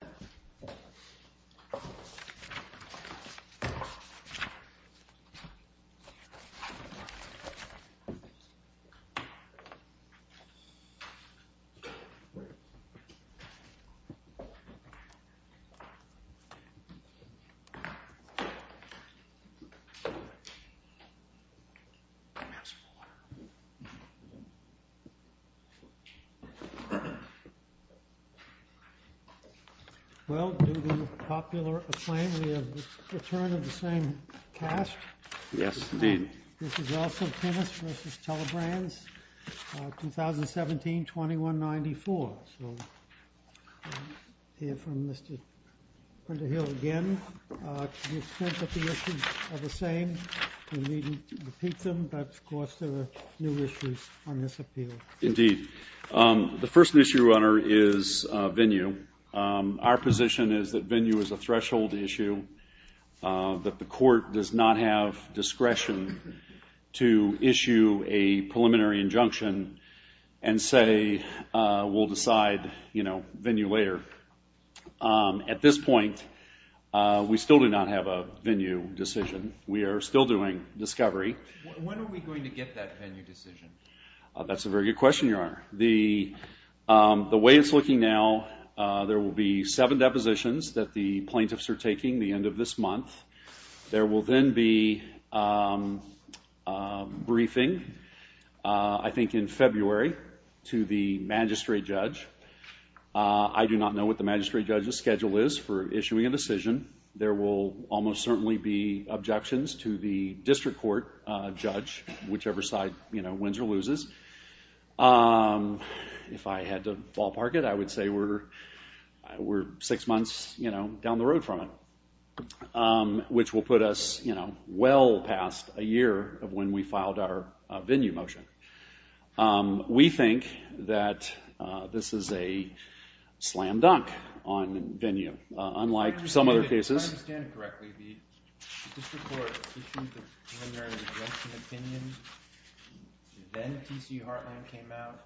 Tinnus Enterprises, LLC v. Telebrands Corporation Well, due to popular acclaim, we have the return of the same cast. Yes, indeed. This is also Tinnus v. Telebrands, 2017-2194. So, we'll hear from Mr. Hunter Hill again. To the extent that the issues are the same, we needn't repeat them, but of course there are new issues on this appeal. Indeed. The first issue, Your Honor, is venue. Our position is that venue is a threshold issue, that the court does not have discretion to issue a preliminary injunction and say, we'll decide venue later. At this point, we still do not have a venue decision. We are still doing discovery. When are we going to get that venue decision? That's a very good question, Your Honor. The way it's looking now, there will be seven depositions that the plaintiffs are taking the end of this month. There will then be a briefing, I think in February, to the magistrate judge. I do not know what the magistrate judge's schedule is for issuing a decision. There will almost certainly be objections to the district court judge, whichever side wins or loses. If I had to ballpark it, I would say we're six months down the road from it, which will put us well past a year of when we filed our venue motion. We think that this is a slam dunk on venue. If I understand it correctly, the district court issued a preliminary injunction opinion, then T.C. Hartland came out,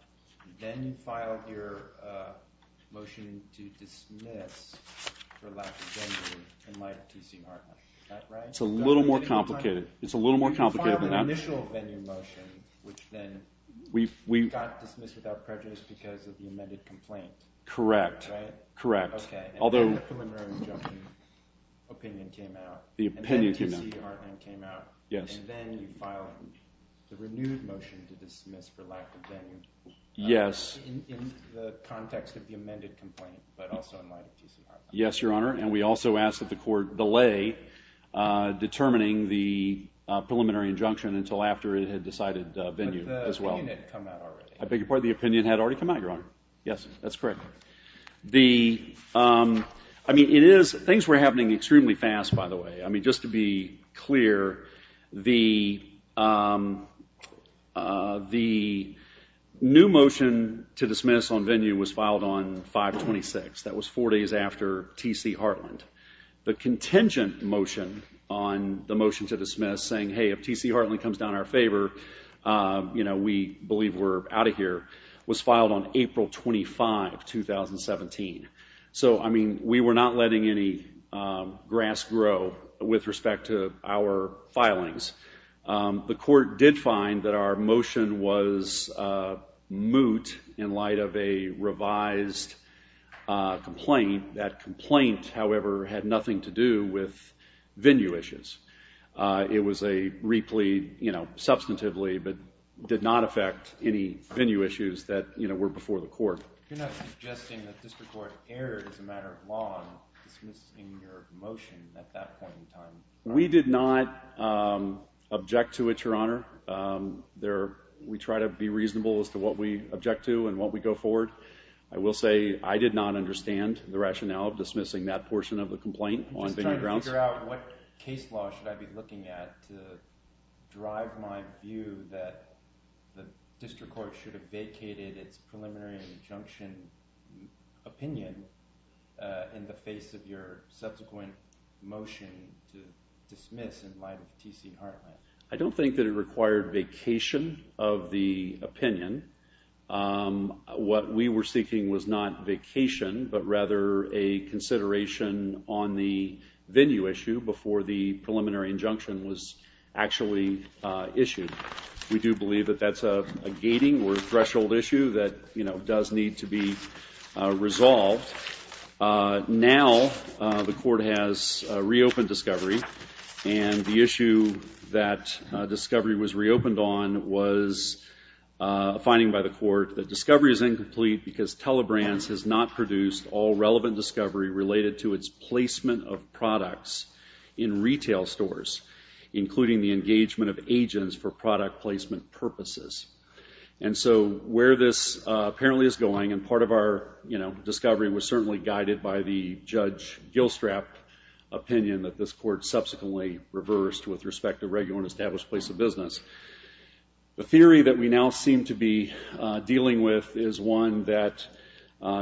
then you filed your motion to dismiss for lack of venue in light of T.C. Hartland. Is that right? It's a little more complicated than that. You filed an initial venue motion, which then got dismissed without prejudice because of the amended complaint. Correct. And then the preliminary injunction opinion came out, and then T.C. Hartland came out, and then you filed the renewed motion to dismiss for lack of venue in the context of the amended complaint, but also in light of T.C. Hartland. Yes, Your Honor, and we also asked that the court delay determining the preliminary injunction until after it had decided venue as well. But the opinion had come out already. I beg your pardon? The opinion had already come out, Your Honor. Yes, that's correct. Things were happening extremely fast, by the way. Just to be clear, the new motion to dismiss on venue was filed on 5-26. That was four days after T.C. Hartland. The contingent motion on the motion to dismiss saying, hey, if T.C. Hartland comes down in our favor, we believe we're out of here, was filed on April 25, 2017. So, I mean, we were not letting any grass grow with respect to our filings. The court did find that our motion was moot in light of a revised complaint. That complaint, however, had nothing to do with venue issues. It was a replete, you know, substantively, but did not affect any venue issues that were before the court. You're not suggesting that district court erred as a matter of law in dismissing your motion at that point in time? We did not object to it, Your Honor. We try to be reasonable as to what we object to and what we go forward. I will say I did not understand the rationale of dismissing that portion of the complaint on venue grounds. I'm just trying to figure out what case law should I be looking at to drive my view that the district court should have vacated its preliminary injunction opinion in the face of your subsequent motion to dismiss in light of T.C. Hartland. I don't think that it required vacation of the opinion. What we were seeking was not vacation, but rather a consideration on the venue issue before the preliminary injunction was actually issued. We do believe that that's a gating or threshold issue that, you know, does need to be resolved. Now the court has reopened discovery, and the issue that discovery was reopened on was a finding by the court that discovery is incomplete because Telebrands has not produced all relevant discovery related to its placement of products in retail stores, including the engagement of agents for product placement purposes. And so where this apparently is going, and part of our, you know, discovery was certainly guided by the Judge Gilstrap opinion that this court subsequently reversed with respect to regular and established place of business. The theory that we now seem to be dealing with is one that,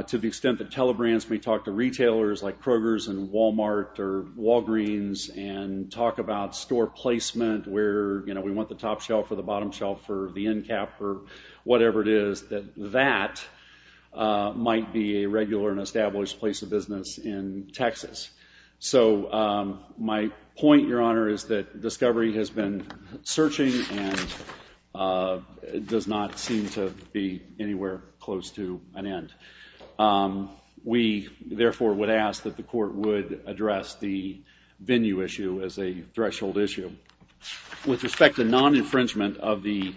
to the extent that Telebrands may talk to retailers like Kroger's and Walmart or Walgreens and talk about store placement where, you know, we want the top shelf or the bottom shelf or the end cap or whatever it is, that that might be a regular and established place of business in Texas. So my point, Your Honor, is that discovery has been searching and does not seem to be anywhere close to an end. We, therefore, would ask that the court would address the venue issue as a threshold issue. With respect to non-infringement of the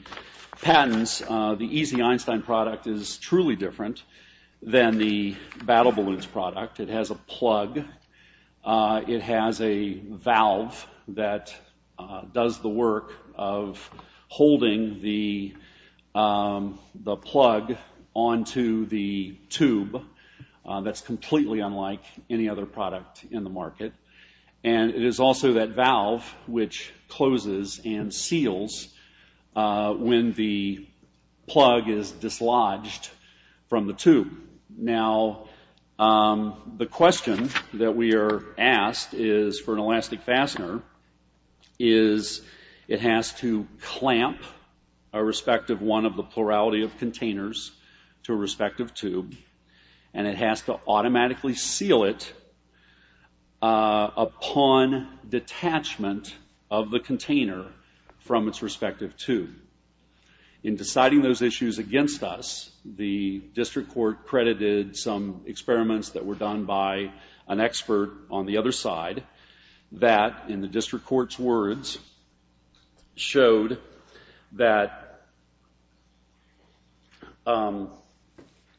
patents, the Easy Einstein product is truly different than the Battle Balloons product. It has a plug. It has a valve that does the work of holding the plug onto the tube. That's completely unlike any other product in the market. And it is also that valve which closes and seals when the plug is dislodged from the tube. Now, the question that we are asked is, for an elastic fastener, is it has to clamp a respective one of the plurality of containers to a respective tube, and it has to automatically seal it upon detachment of the container from its respective tube. In deciding those issues against us, the district court credited some experiments that were done by an expert on the other side that, in the district court's words, showed that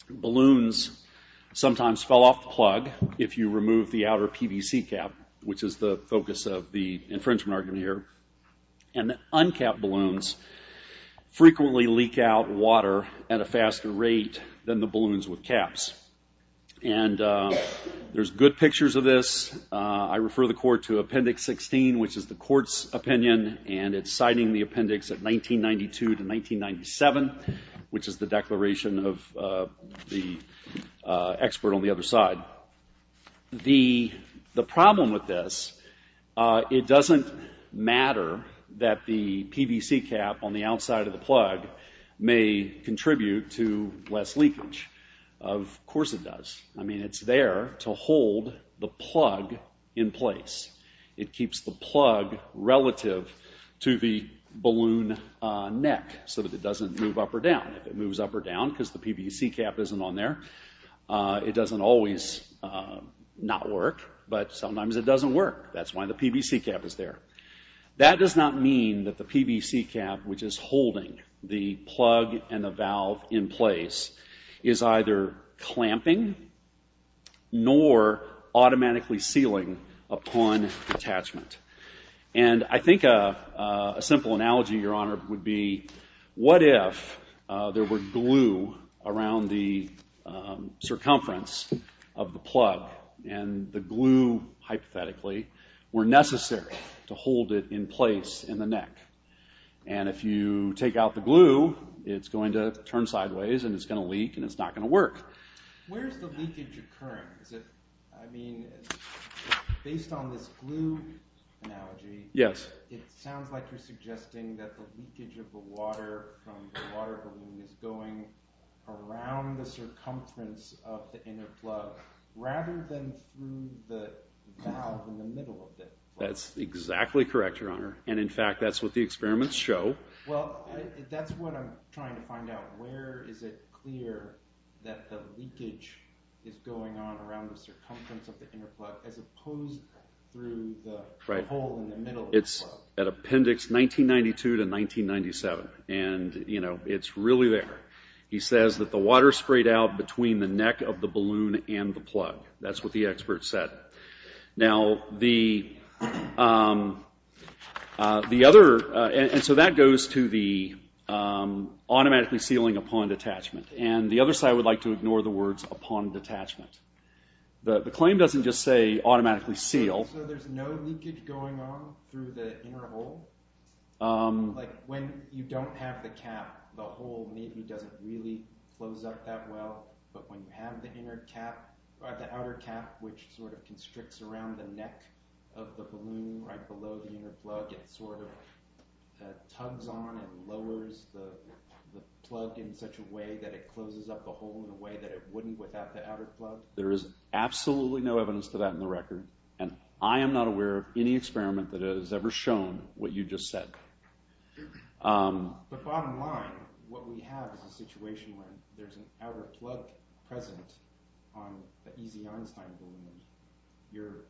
balloons sometimes fell off the plug if you remove the outer PVC cap, which is the focus of the infringement argument here. And that uncapped balloons frequently leak out water at a faster rate than the balloons with caps. And there's good pictures of this. I refer the court to Appendix 16, which is the court's opinion, and it's citing the appendix of 1992 to 1997, which is the declaration of the expert on the other side. The problem with this, it doesn't matter that the PVC cap on the outside of the plug may contribute to less leakage. Of course it does. I mean, it's there to hold the plug in place. It keeps the plug relative to the balloon neck so that it doesn't move up or down. It moves up or down because the PVC cap isn't on there. It doesn't always not work, but sometimes it doesn't work. That's why the PVC cap is there. That does not mean that the PVC cap, which is holding the plug and the valve in place, is either clamping nor automatically sealing upon detachment. And I think a simple analogy, Your Honor, would be, what if there were glue around the circumference of the plug? And the glue, hypothetically, were necessary to hold it in place in the neck. And if you take out the glue, it's going to turn sideways and it's going to leak and it's not going to work. Where's the leakage occurring? I mean, based on this glue analogy, it sounds like you're suggesting that the leakage of the water from the water balloon is going around the circumference of the inner plug rather than through the valve in the middle of the plug. That's exactly correct, Your Honor. And in fact, that's what the experiments show. Well, that's what I'm trying to find out. Where is it clear that the leakage is going on around the circumference of the inner plug as opposed through the hole in the middle of the plug? It's at Appendix 1992 to 1997, and it's really there. He says that the water sprayed out between the neck of the balloon and the plug. That's what the expert said. Now, the other... And so that goes to the automatically sealing upon detachment. And the other side would like to ignore the words upon detachment. The claim doesn't just say automatically seal. So there's no leakage going on through the inner hole? Like when you don't have the cap, the hole maybe doesn't really close up that well. But when you have the inner cap or the outer cap, which sort of constricts around the neck of the balloon right below the inner plug, it sort of tugs on and lowers the plug in such a way that it closes up the hole in a way that it wouldn't without the outer plug? There is absolutely no evidence to that in the record. And I am not aware of any experiment that has ever shown what you just said. The bottom line, what we have is a situation where there's an outer plug present on the EZ Einstein balloon. You're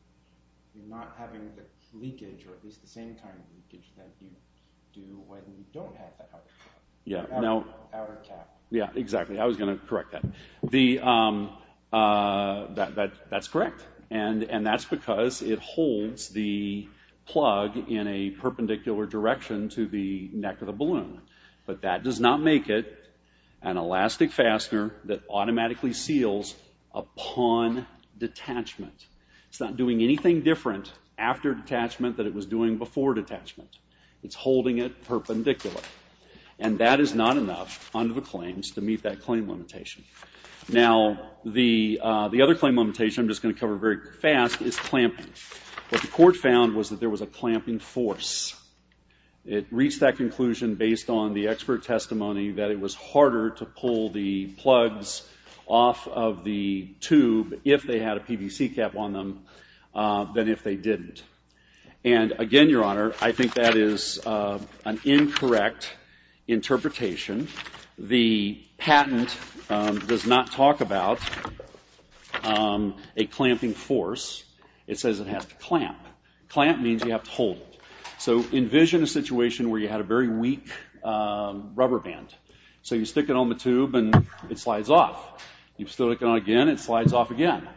not having the leakage or at least the same kind of leakage that you do when you don't have the outer plug, the outer cap. Yeah, exactly. I was going to correct that. That's correct. And that's because it holds the plug in a perpendicular direction to the neck of the balloon. But that does not make it an elastic fastener that automatically seals upon detachment. It's not doing anything different after detachment than it was doing before detachment. It's holding it perpendicular. And that is not enough under the claims to meet that claim limitation. Now, the other claim limitation I'm just going to cover very fast is clamping. What the court found was that there was a clamping force. It reached that conclusion based on the expert testimony that it was harder to pull the plugs off of the tube if they had a PVC cap on them than if they didn't. And again, Your Honor, I think that is an incorrect interpretation. The patent does not talk about a clamping force. It says it has to clamp. Clamp means you have to hold it. So envision a situation where you had a very weak rubber band. So you stick it on the tube and it slides off. You stick it on again, it slides off again.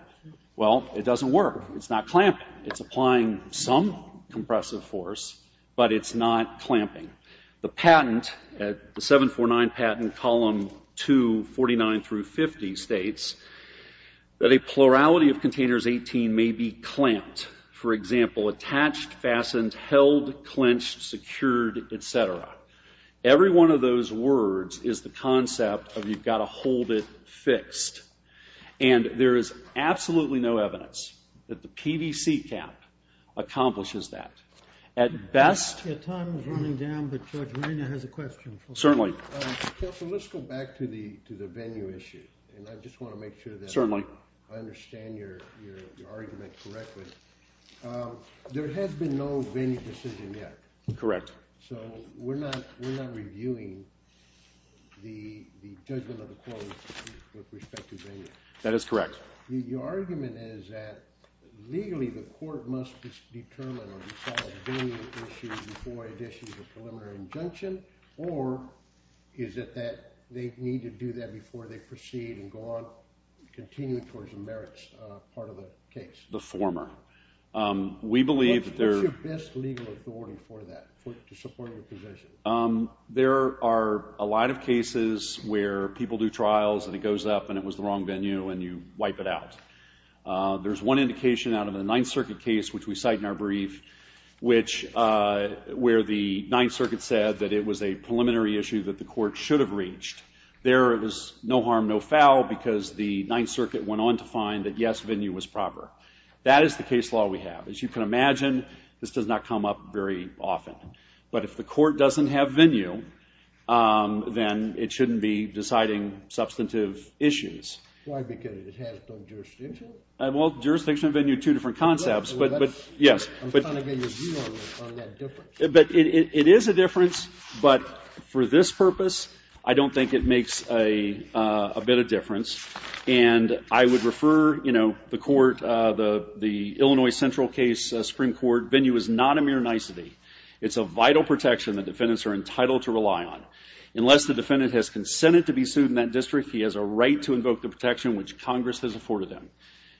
Well, it doesn't work. It's not clamping. It's applying some compressive force, but it's not clamping. The patent, the 749 patent, column 2, 49 through 50, states that a plurality of containers 18 may be clamped. For example, attached, fastened, held, clenched, secured, et cetera. Every one of those words is the concept of you've got to hold it fixed. And there is absolutely no evidence that the PVC cap accomplishes that. At best ‑‑ Your time is running down, but Judge Rainer has a question. Certainly. Counsel, let's go back to the venue issue, and I just want to make sure that I understand your argument correctly. There has been no venue decision yet. Correct. So we're not reviewing the judgment of the court with respect to venue. That is correct. Your argument is that legally the court must determine or resolve venue issues before it issues a preliminary injunction, or is it that they need to do that before they proceed and go on continuing towards the merits part of the case? The former. We believe there ‑‑ There are a lot of cases where people do trials, and it goes up, and it was the wrong venue, and you wipe it out. There's one indication out of the Ninth Circuit case, which we cite in our brief, where the Ninth Circuit said that it was a preliminary issue that the court should have reached. There it was no harm, no foul, because the Ninth Circuit went on to find that, yes, venue was proper. That is the case law we have. As you can imagine, this does not come up very often. But if the court doesn't have venue, then it shouldn't be deciding substantive issues. Why? Because it has no jurisdiction? Well, jurisdiction and venue are two different concepts, but yes. I'm trying to get your view on that difference. It is a difference, but for this purpose, I don't think it makes a bit of difference. And I would refer, you know, the court, the Illinois Central case Supreme Court, venue is not a mere nicety. It's a vital protection that defendants are entitled to rely on. Unless the defendant has consented to be sued in that district, he has a right to invoke the protection which Congress has afforded them.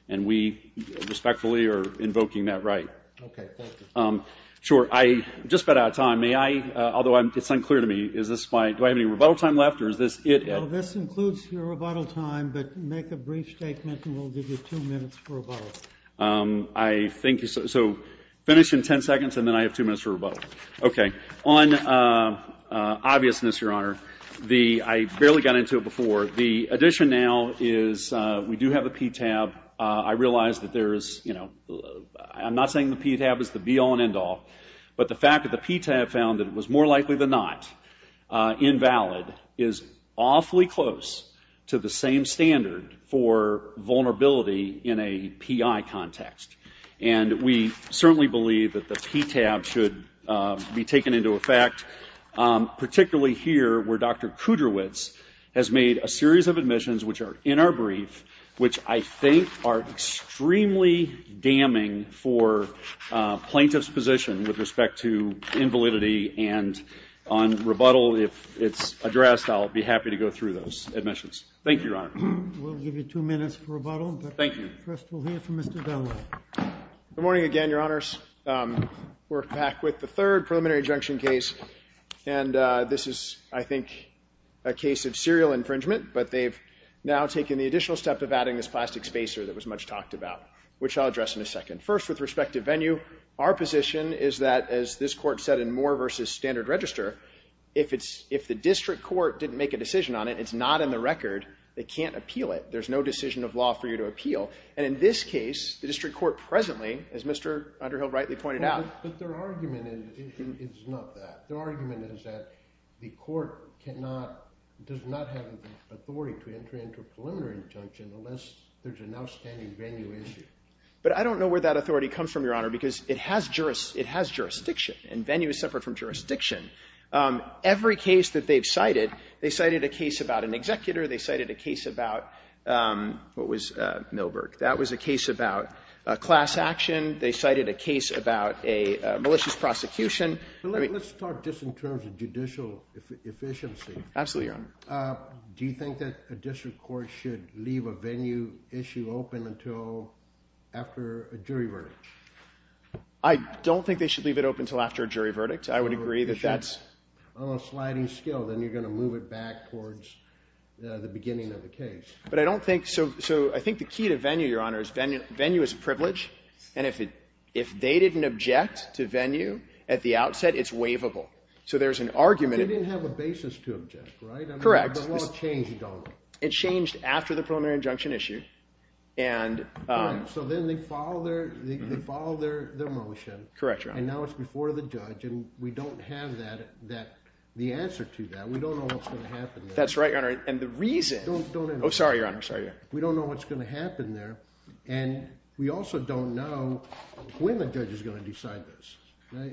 And we respectfully are invoking that right. Okay. Thank you. Sure. I'm just about out of time. May I, although it's unclear to me, is this my ‑‑ do I have any rebuttal time left, or is this it? Well, this includes your rebuttal time, but make a brief statement, and we'll give you two minutes for rebuttal. I think, so finish in 10 seconds, and then I have two minutes for rebuttal. Okay. On obviousness, Your Honor, I barely got into it before. The addition now is we do have a PTAB. I realize that there is, you know, I'm not saying the PTAB is the be all and end all, but the fact that the PTAB found that it was more likely than not invalid is awfully close to the same standard for vulnerability in a PI context. And we certainly believe that the PTAB should be taken into effect, particularly here where Dr. Kudrowicz has made a series of admissions which are in our brief, which I think are extremely damning for plaintiff's position with respect to invalidity. And on rebuttal, if it's addressed, I'll be happy to go through those admissions. Thank you, Your Honor. We'll give you two minutes for rebuttal. Thank you. First we'll hear from Mr. Dunlap. Good morning again, Your Honors. We're back with the third preliminary injunction case, and this is, I think, a case of serial infringement, but they've now taken the additional step of adding this plastic spacer that was much talked about, which I'll address in a second. First, with respect to venue, our position is that, as this court said in Moore v. Standard Register, if the district court didn't make a decision on it, it's not in the record, they can't appeal it. There's no decision of law for you to appeal. And in this case, the district court presently, as Mr. Underhill rightly pointed out. But their argument is not that. Their argument is that the court does not have the authority to enter into a preliminary injunction unless there's an outstanding venue issue. But I don't know where that authority comes from, Your Honor, because it has jurisdiction, and venue is separate from jurisdiction. Every case that they've cited, they cited a case about an executor, they cited a case about, what was Milberg? That was a case about a class action. They cited a case about a malicious prosecution. Let's start just in terms of judicial efficiency. Absolutely, Your Honor. Do you think that a district court should leave a venue issue open until after a jury verdict? I don't think they should leave it open until after a jury verdict. I would agree that that's. On a sliding scale, then you're going to move it back towards the beginning of the case. But I don't think, so I think the key to venue, Your Honor, is venue is a privilege, and if they didn't object to venue at the outset, it's waivable. So there's an argument. They didn't have a basis to object, right? Correct. But what changed, though? It changed after the preliminary injunction issue, and Right, so then they followed their motion. Correct, Your Honor. And now it's before the judge, and we don't have the answer to that. We don't know what's going to happen there. That's right, Your Honor, and the reason Don't interrupt. Oh, sorry, Your Honor. We don't know what's going to happen there, and we also don't know when the judge is going to decide this.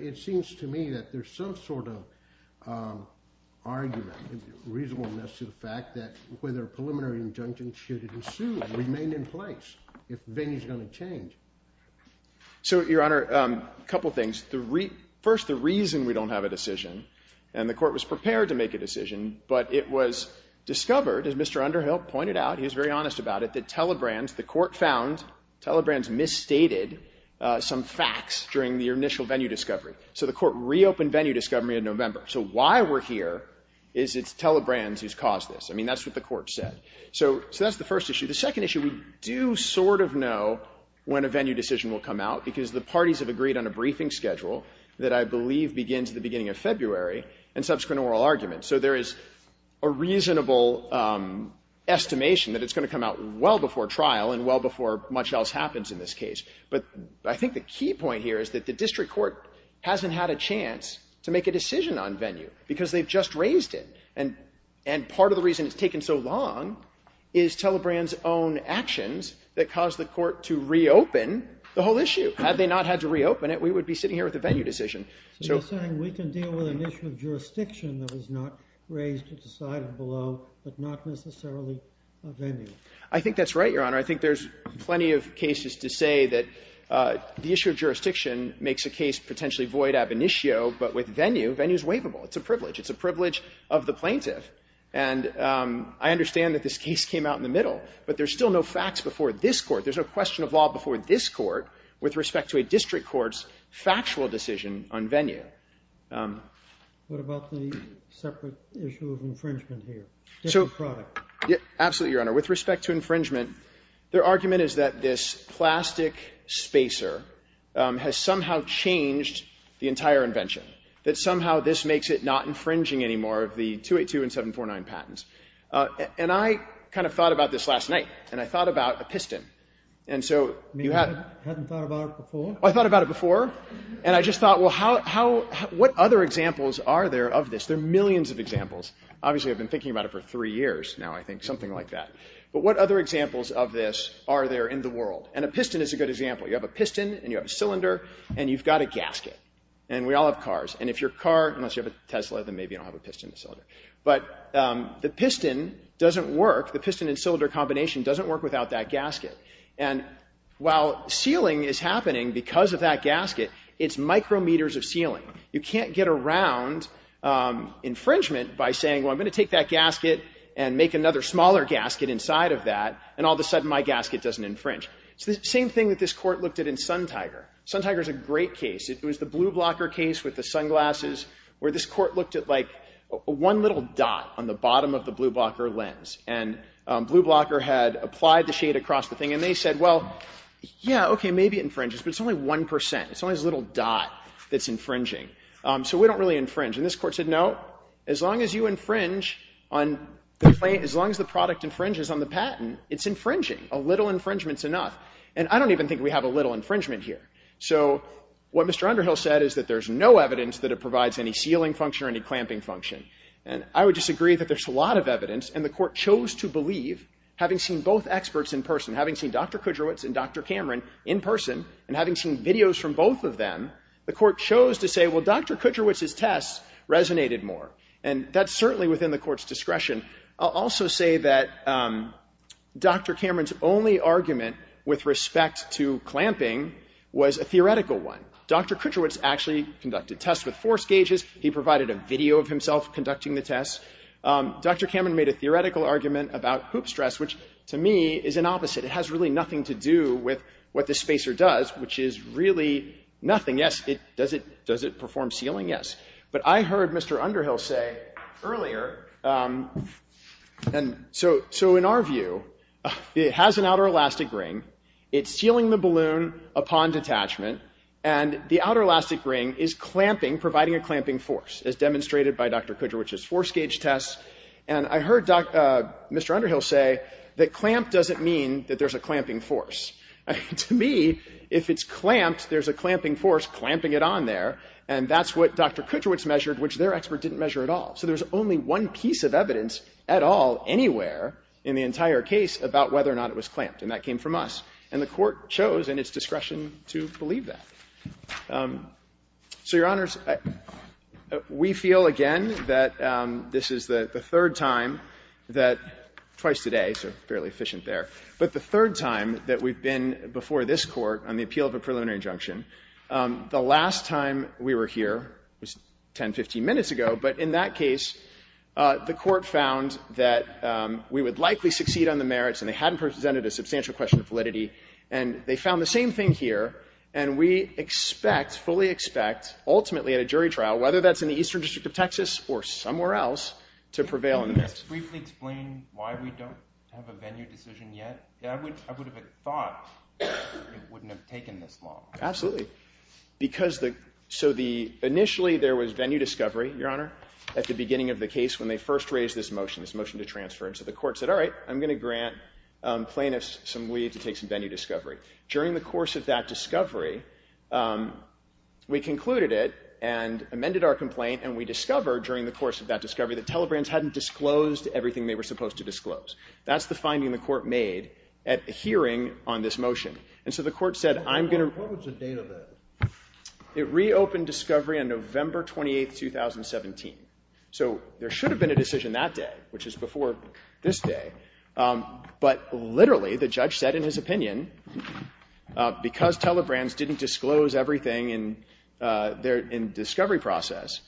It seems to me that there's some sort of argument, reasonableness to the fact that whether a preliminary injunction should ensue and remain in place if the venue is going to change. So, Your Honor, a couple things. First, the reason we don't have a decision, and the court was prepared to make a decision, but it was discovered, as Mr. Underhill pointed out, he was very honest about it, that Telebrands, the court found Telebrands misstated some facts during the initial venue discovery. So the court reopened venue discovery in November. So why we're here is it's Telebrands who's caused this. I mean, that's what the court said. So that's the first issue. The second issue, we do sort of know when a venue decision will come out because the parties have agreed on a briefing schedule that I believe begins at the beginning of February and subsequent oral arguments. So there is a reasonable estimation that it's going to come out well before trial and well before much else happens in this case. But I think the key point here is that the district court hasn't had a chance to make a decision on venue because they've just raised it. And part of the reason it's taken so long is Telebrands' own actions that caused the court to reopen the whole issue. Had they not had to reopen it, we would be sitting here with a venue decision. So you're saying we can deal with an issue of jurisdiction that was not raised or decided below, but not necessarily a venue? I think that's right, Your Honor. I think there's plenty of cases to say that the issue of jurisdiction makes a case potentially void ab initio, but with venue, venue is waivable. It's a privilege. It's a privilege of the plaintiff. And I understand that this case came out in the middle, but there's still no facts before this court. There's no question of law before this court with respect to a district court's factual decision on venue. What about the separate issue of infringement here? Different product. Absolutely, Your Honor. With respect to infringement, their argument is that this plastic spacer has somehow changed the entire invention. That somehow this makes it not infringing anymore of the 282 and 749 patents. And I kind of thought about this last night, and I thought about a piston. You hadn't thought about it before? I thought about it before, and I just thought, well, what other examples are there of this? There are millions of examples. Obviously, I've been thinking about it for three years now, I think, something like that. But what other examples of this are there in the world? And a piston is a good example. You have a piston, and you have a cylinder, and you've got a gasket, and we all have cars. And if you're a car, unless you have a Tesla, then maybe you don't have a piston and a cylinder. But the piston doesn't work. The piston and cylinder combination doesn't work without that gasket. And while sealing is happening because of that gasket, it's micrometers of sealing. You can't get around infringement by saying, well, I'm going to take that gasket and make another smaller gasket inside of that, and all of a sudden my gasket doesn't infringe. It's the same thing that this court looked at in SunTiger. SunTiger is a great case. It was the blue blocker case with the sunglasses where this court looked at, like, one little dot on the bottom of the blue blocker lens. And blue blocker had applied the shade across the thing. And they said, well, yeah, OK, maybe it infringes, but it's only 1%. It's only this little dot that's infringing. So we don't really infringe. And this court said, no, as long as you infringe, as long as the product infringes on the patent, it's infringing. A little infringement is enough. And I don't even think we have a little infringement here. So what Mr. Underhill said is that there's no evidence that it provides any sealing function or any clamping function. And I would disagree that there's a lot of evidence. And the court chose to believe, having seen both experts in person, having seen Dr. Kudrowitz and Dr. Cameron in person, and having seen videos from both of them, the court chose to say, well, Dr. Kudrowitz's tests resonated more. And that's certainly within the court's discretion. I'll also say that Dr. Cameron's only argument with respect to clamping was a theoretical one. Dr. Kudrowitz actually conducted tests with force gauges. He provided a video of himself conducting the tests. Dr. Cameron made a theoretical argument about hoop stress, which to me is an opposite. It has really nothing to do with what the spacer does, which is really nothing. Yes, does it perform sealing? Yes. But I heard Mr. Underhill say earlier, and so in our view, it has an outer elastic ring. It's sealing the balloon upon detachment. And the outer elastic ring is clamping, providing a clamping force, as demonstrated by Dr. Kudrowitz's force gauge tests. And I heard Mr. Underhill say that clamp doesn't mean that there's a clamping force. To me, if it's clamped, there's a clamping force clamping it on there. And that's what Dr. Kudrowitz measured, which their expert didn't measure at all. So there's only one piece of evidence at all anywhere in the entire case about whether or not it was clamped. And that came from us. And the Court chose in its discretion to believe that. So, Your Honors, we feel again that this is the third time that twice today, so fairly efficient there, but the third time that we've been before this Court on the appeal of a preliminary injunction. The last time we were here was 10, 15 minutes ago. But in that case, the Court found that we would likely succeed on the merits, and they hadn't presented a substantial question of validity. And they found the same thing here. And we expect, fully expect, ultimately at a jury trial, whether that's in the Eastern District of Texas or somewhere else, to prevail on this. Can you just briefly explain why we don't have a venue decision yet? I would have thought it wouldn't have taken this long. Absolutely. Because the – so the – initially there was venue discovery, Your Honor, at the beginning of the case when they first raised this motion, this motion to transfer. And so the Court said, all right, I'm going to grant plaintiffs some leave to take some venue discovery. During the course of that discovery, we concluded it and amended our complaint, and we discovered during the course of that discovery that Telebrands hadn't disclosed everything they were supposed to disclose. That's the finding the Court made at hearing on this motion. And so the Court said, I'm going to – What was the date of that? It reopened discovery on November 28, 2017. So there should have been a decision that day, which is before this day. But literally, the judge said in his opinion, because Telebrands didn't disclose everything in their discovery process,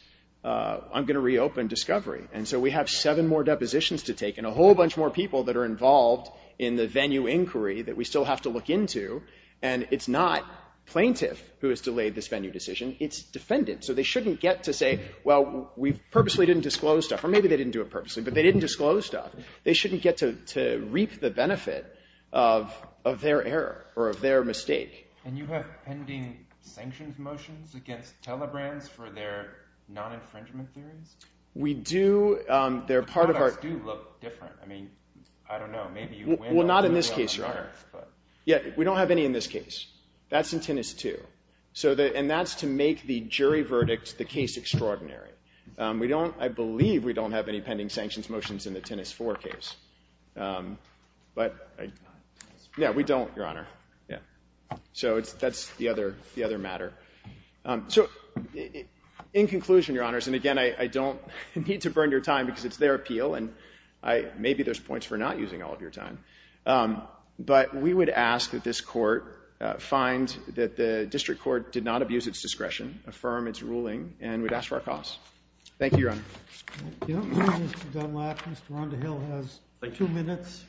I'm going to reopen discovery. And so we have seven more depositions to take and a whole bunch more people that are involved in the venue inquiry that we still have to look into. And it's not plaintiff who has delayed this venue decision. It's defendant. So they shouldn't get to say, well, we purposely didn't disclose stuff. Or maybe they didn't do it purposely, but they didn't disclose stuff. They shouldn't get to reap the benefit of their error or of their mistake. And you have pending sanctions motions against Telebrands for their non-infringement theories? We do. The products do look different. I mean, I don't know. Well, not in this case, Your Honor. Yeah, we don't have any in this case. That's in Tinnis 2. And that's to make the jury verdict the case extraordinary. I believe we don't have any pending sanctions motions in the Tinnis 4 case. But yeah, we don't, Your Honor. So that's the other matter. So in conclusion, Your Honors, and again, I don't need to burn your time because it's their appeal, and maybe there's points for not using all of your time. But we would ask that this Court find that the district court did not abuse its discretion, affirm its ruling, and we'd ask for our costs. Thank you, Your Honor. Mr. Dunlap, Mr. Rondahill has two minutes.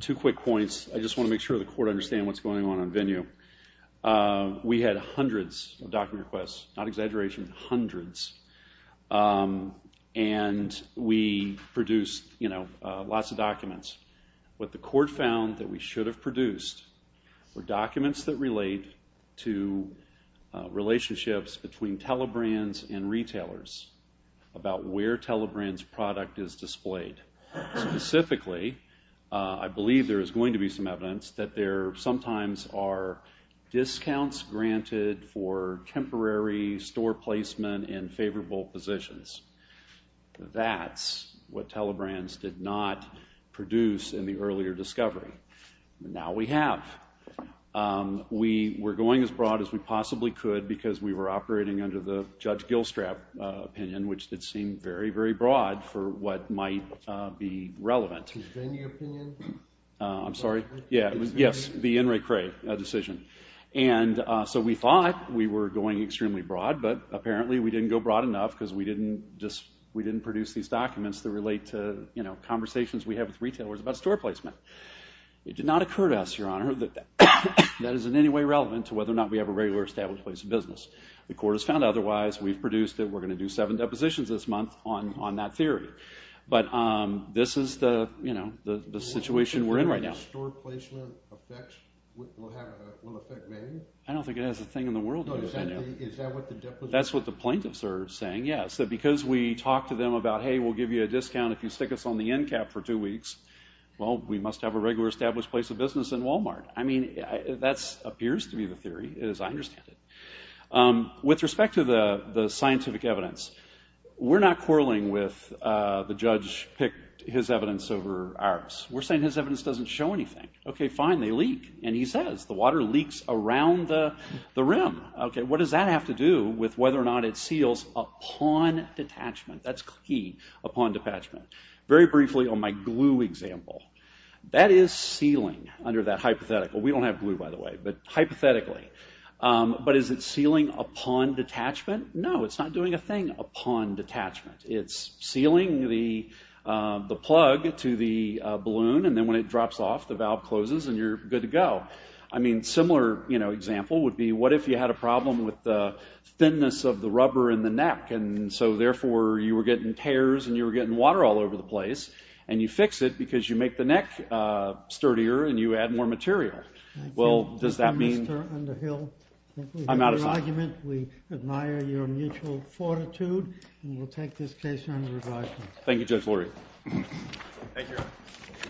Two quick points. I just want to make sure the Court understands what's going on on venue. We had hundreds of document requests. Not exaggeration, hundreds. And we produced lots of documents. What the Court found that we should have produced were documents that relate to relationships between telebrands and retailers about where telebrands' product is displayed. Specifically, I believe there is going to be some evidence that there sometimes are discounts granted for temporary store placement in favorable positions. That's what telebrands did not produce in the earlier discovery. Now we have. We were going as broad as we possibly could because we were operating under the Judge Gilstrap opinion, which did seem very, very broad for what might be relevant. The Vennia opinion? I'm sorry? Yes, the Inouye Cray decision. So we thought we were going extremely broad, but apparently we didn't go broad enough because we didn't produce these documents that relate to conversations we have with retailers about store placement. It did not occur to us, Your Honor, that that is in any way relevant to whether or not we have a regular established place of business. The Court has found otherwise. We've produced that we're going to do seven depositions this month on that theory. But this is the situation we're in right now. Do you think store placement will affect Vennia? I don't think it has a thing in the world to do with Vennia. Is that what the plaintiffs are saying? That's what the plaintiffs are saying, yes. That because we talk to them about, hey, we'll give you a discount if you stick us on the end cap for two weeks, well, we must have a regular established place of business in Walmart. I mean, that appears to be the theory, as I understand it. With respect to the scientific evidence, we're not quarreling with the judge picked his evidence over ours. We're saying his evidence doesn't show anything. Okay, fine, they leak. And he says the water leaks around the rim. Okay, what does that have to do with whether or not it seals upon detachment? That's key, upon detachment. Very briefly, on my glue example, that is sealing under that hypothetical. We don't have glue, by the way, but hypothetically. But is it sealing upon detachment? No, it's not doing a thing upon detachment. It's sealing the plug to the balloon, and then when it drops off, the valve closes, and you're good to go. I mean, a similar example would be what if you had a problem with the thinness of the rubber in the neck, and so therefore you were getting tears and you were getting water all over the place, and you fix it because you make the neck sturdier and you add more material. Well, does that mean? Mr. Underhill, we admire your mutual fortitude. And we'll take this case under review. Thank you, Judge Lurie. Thank you.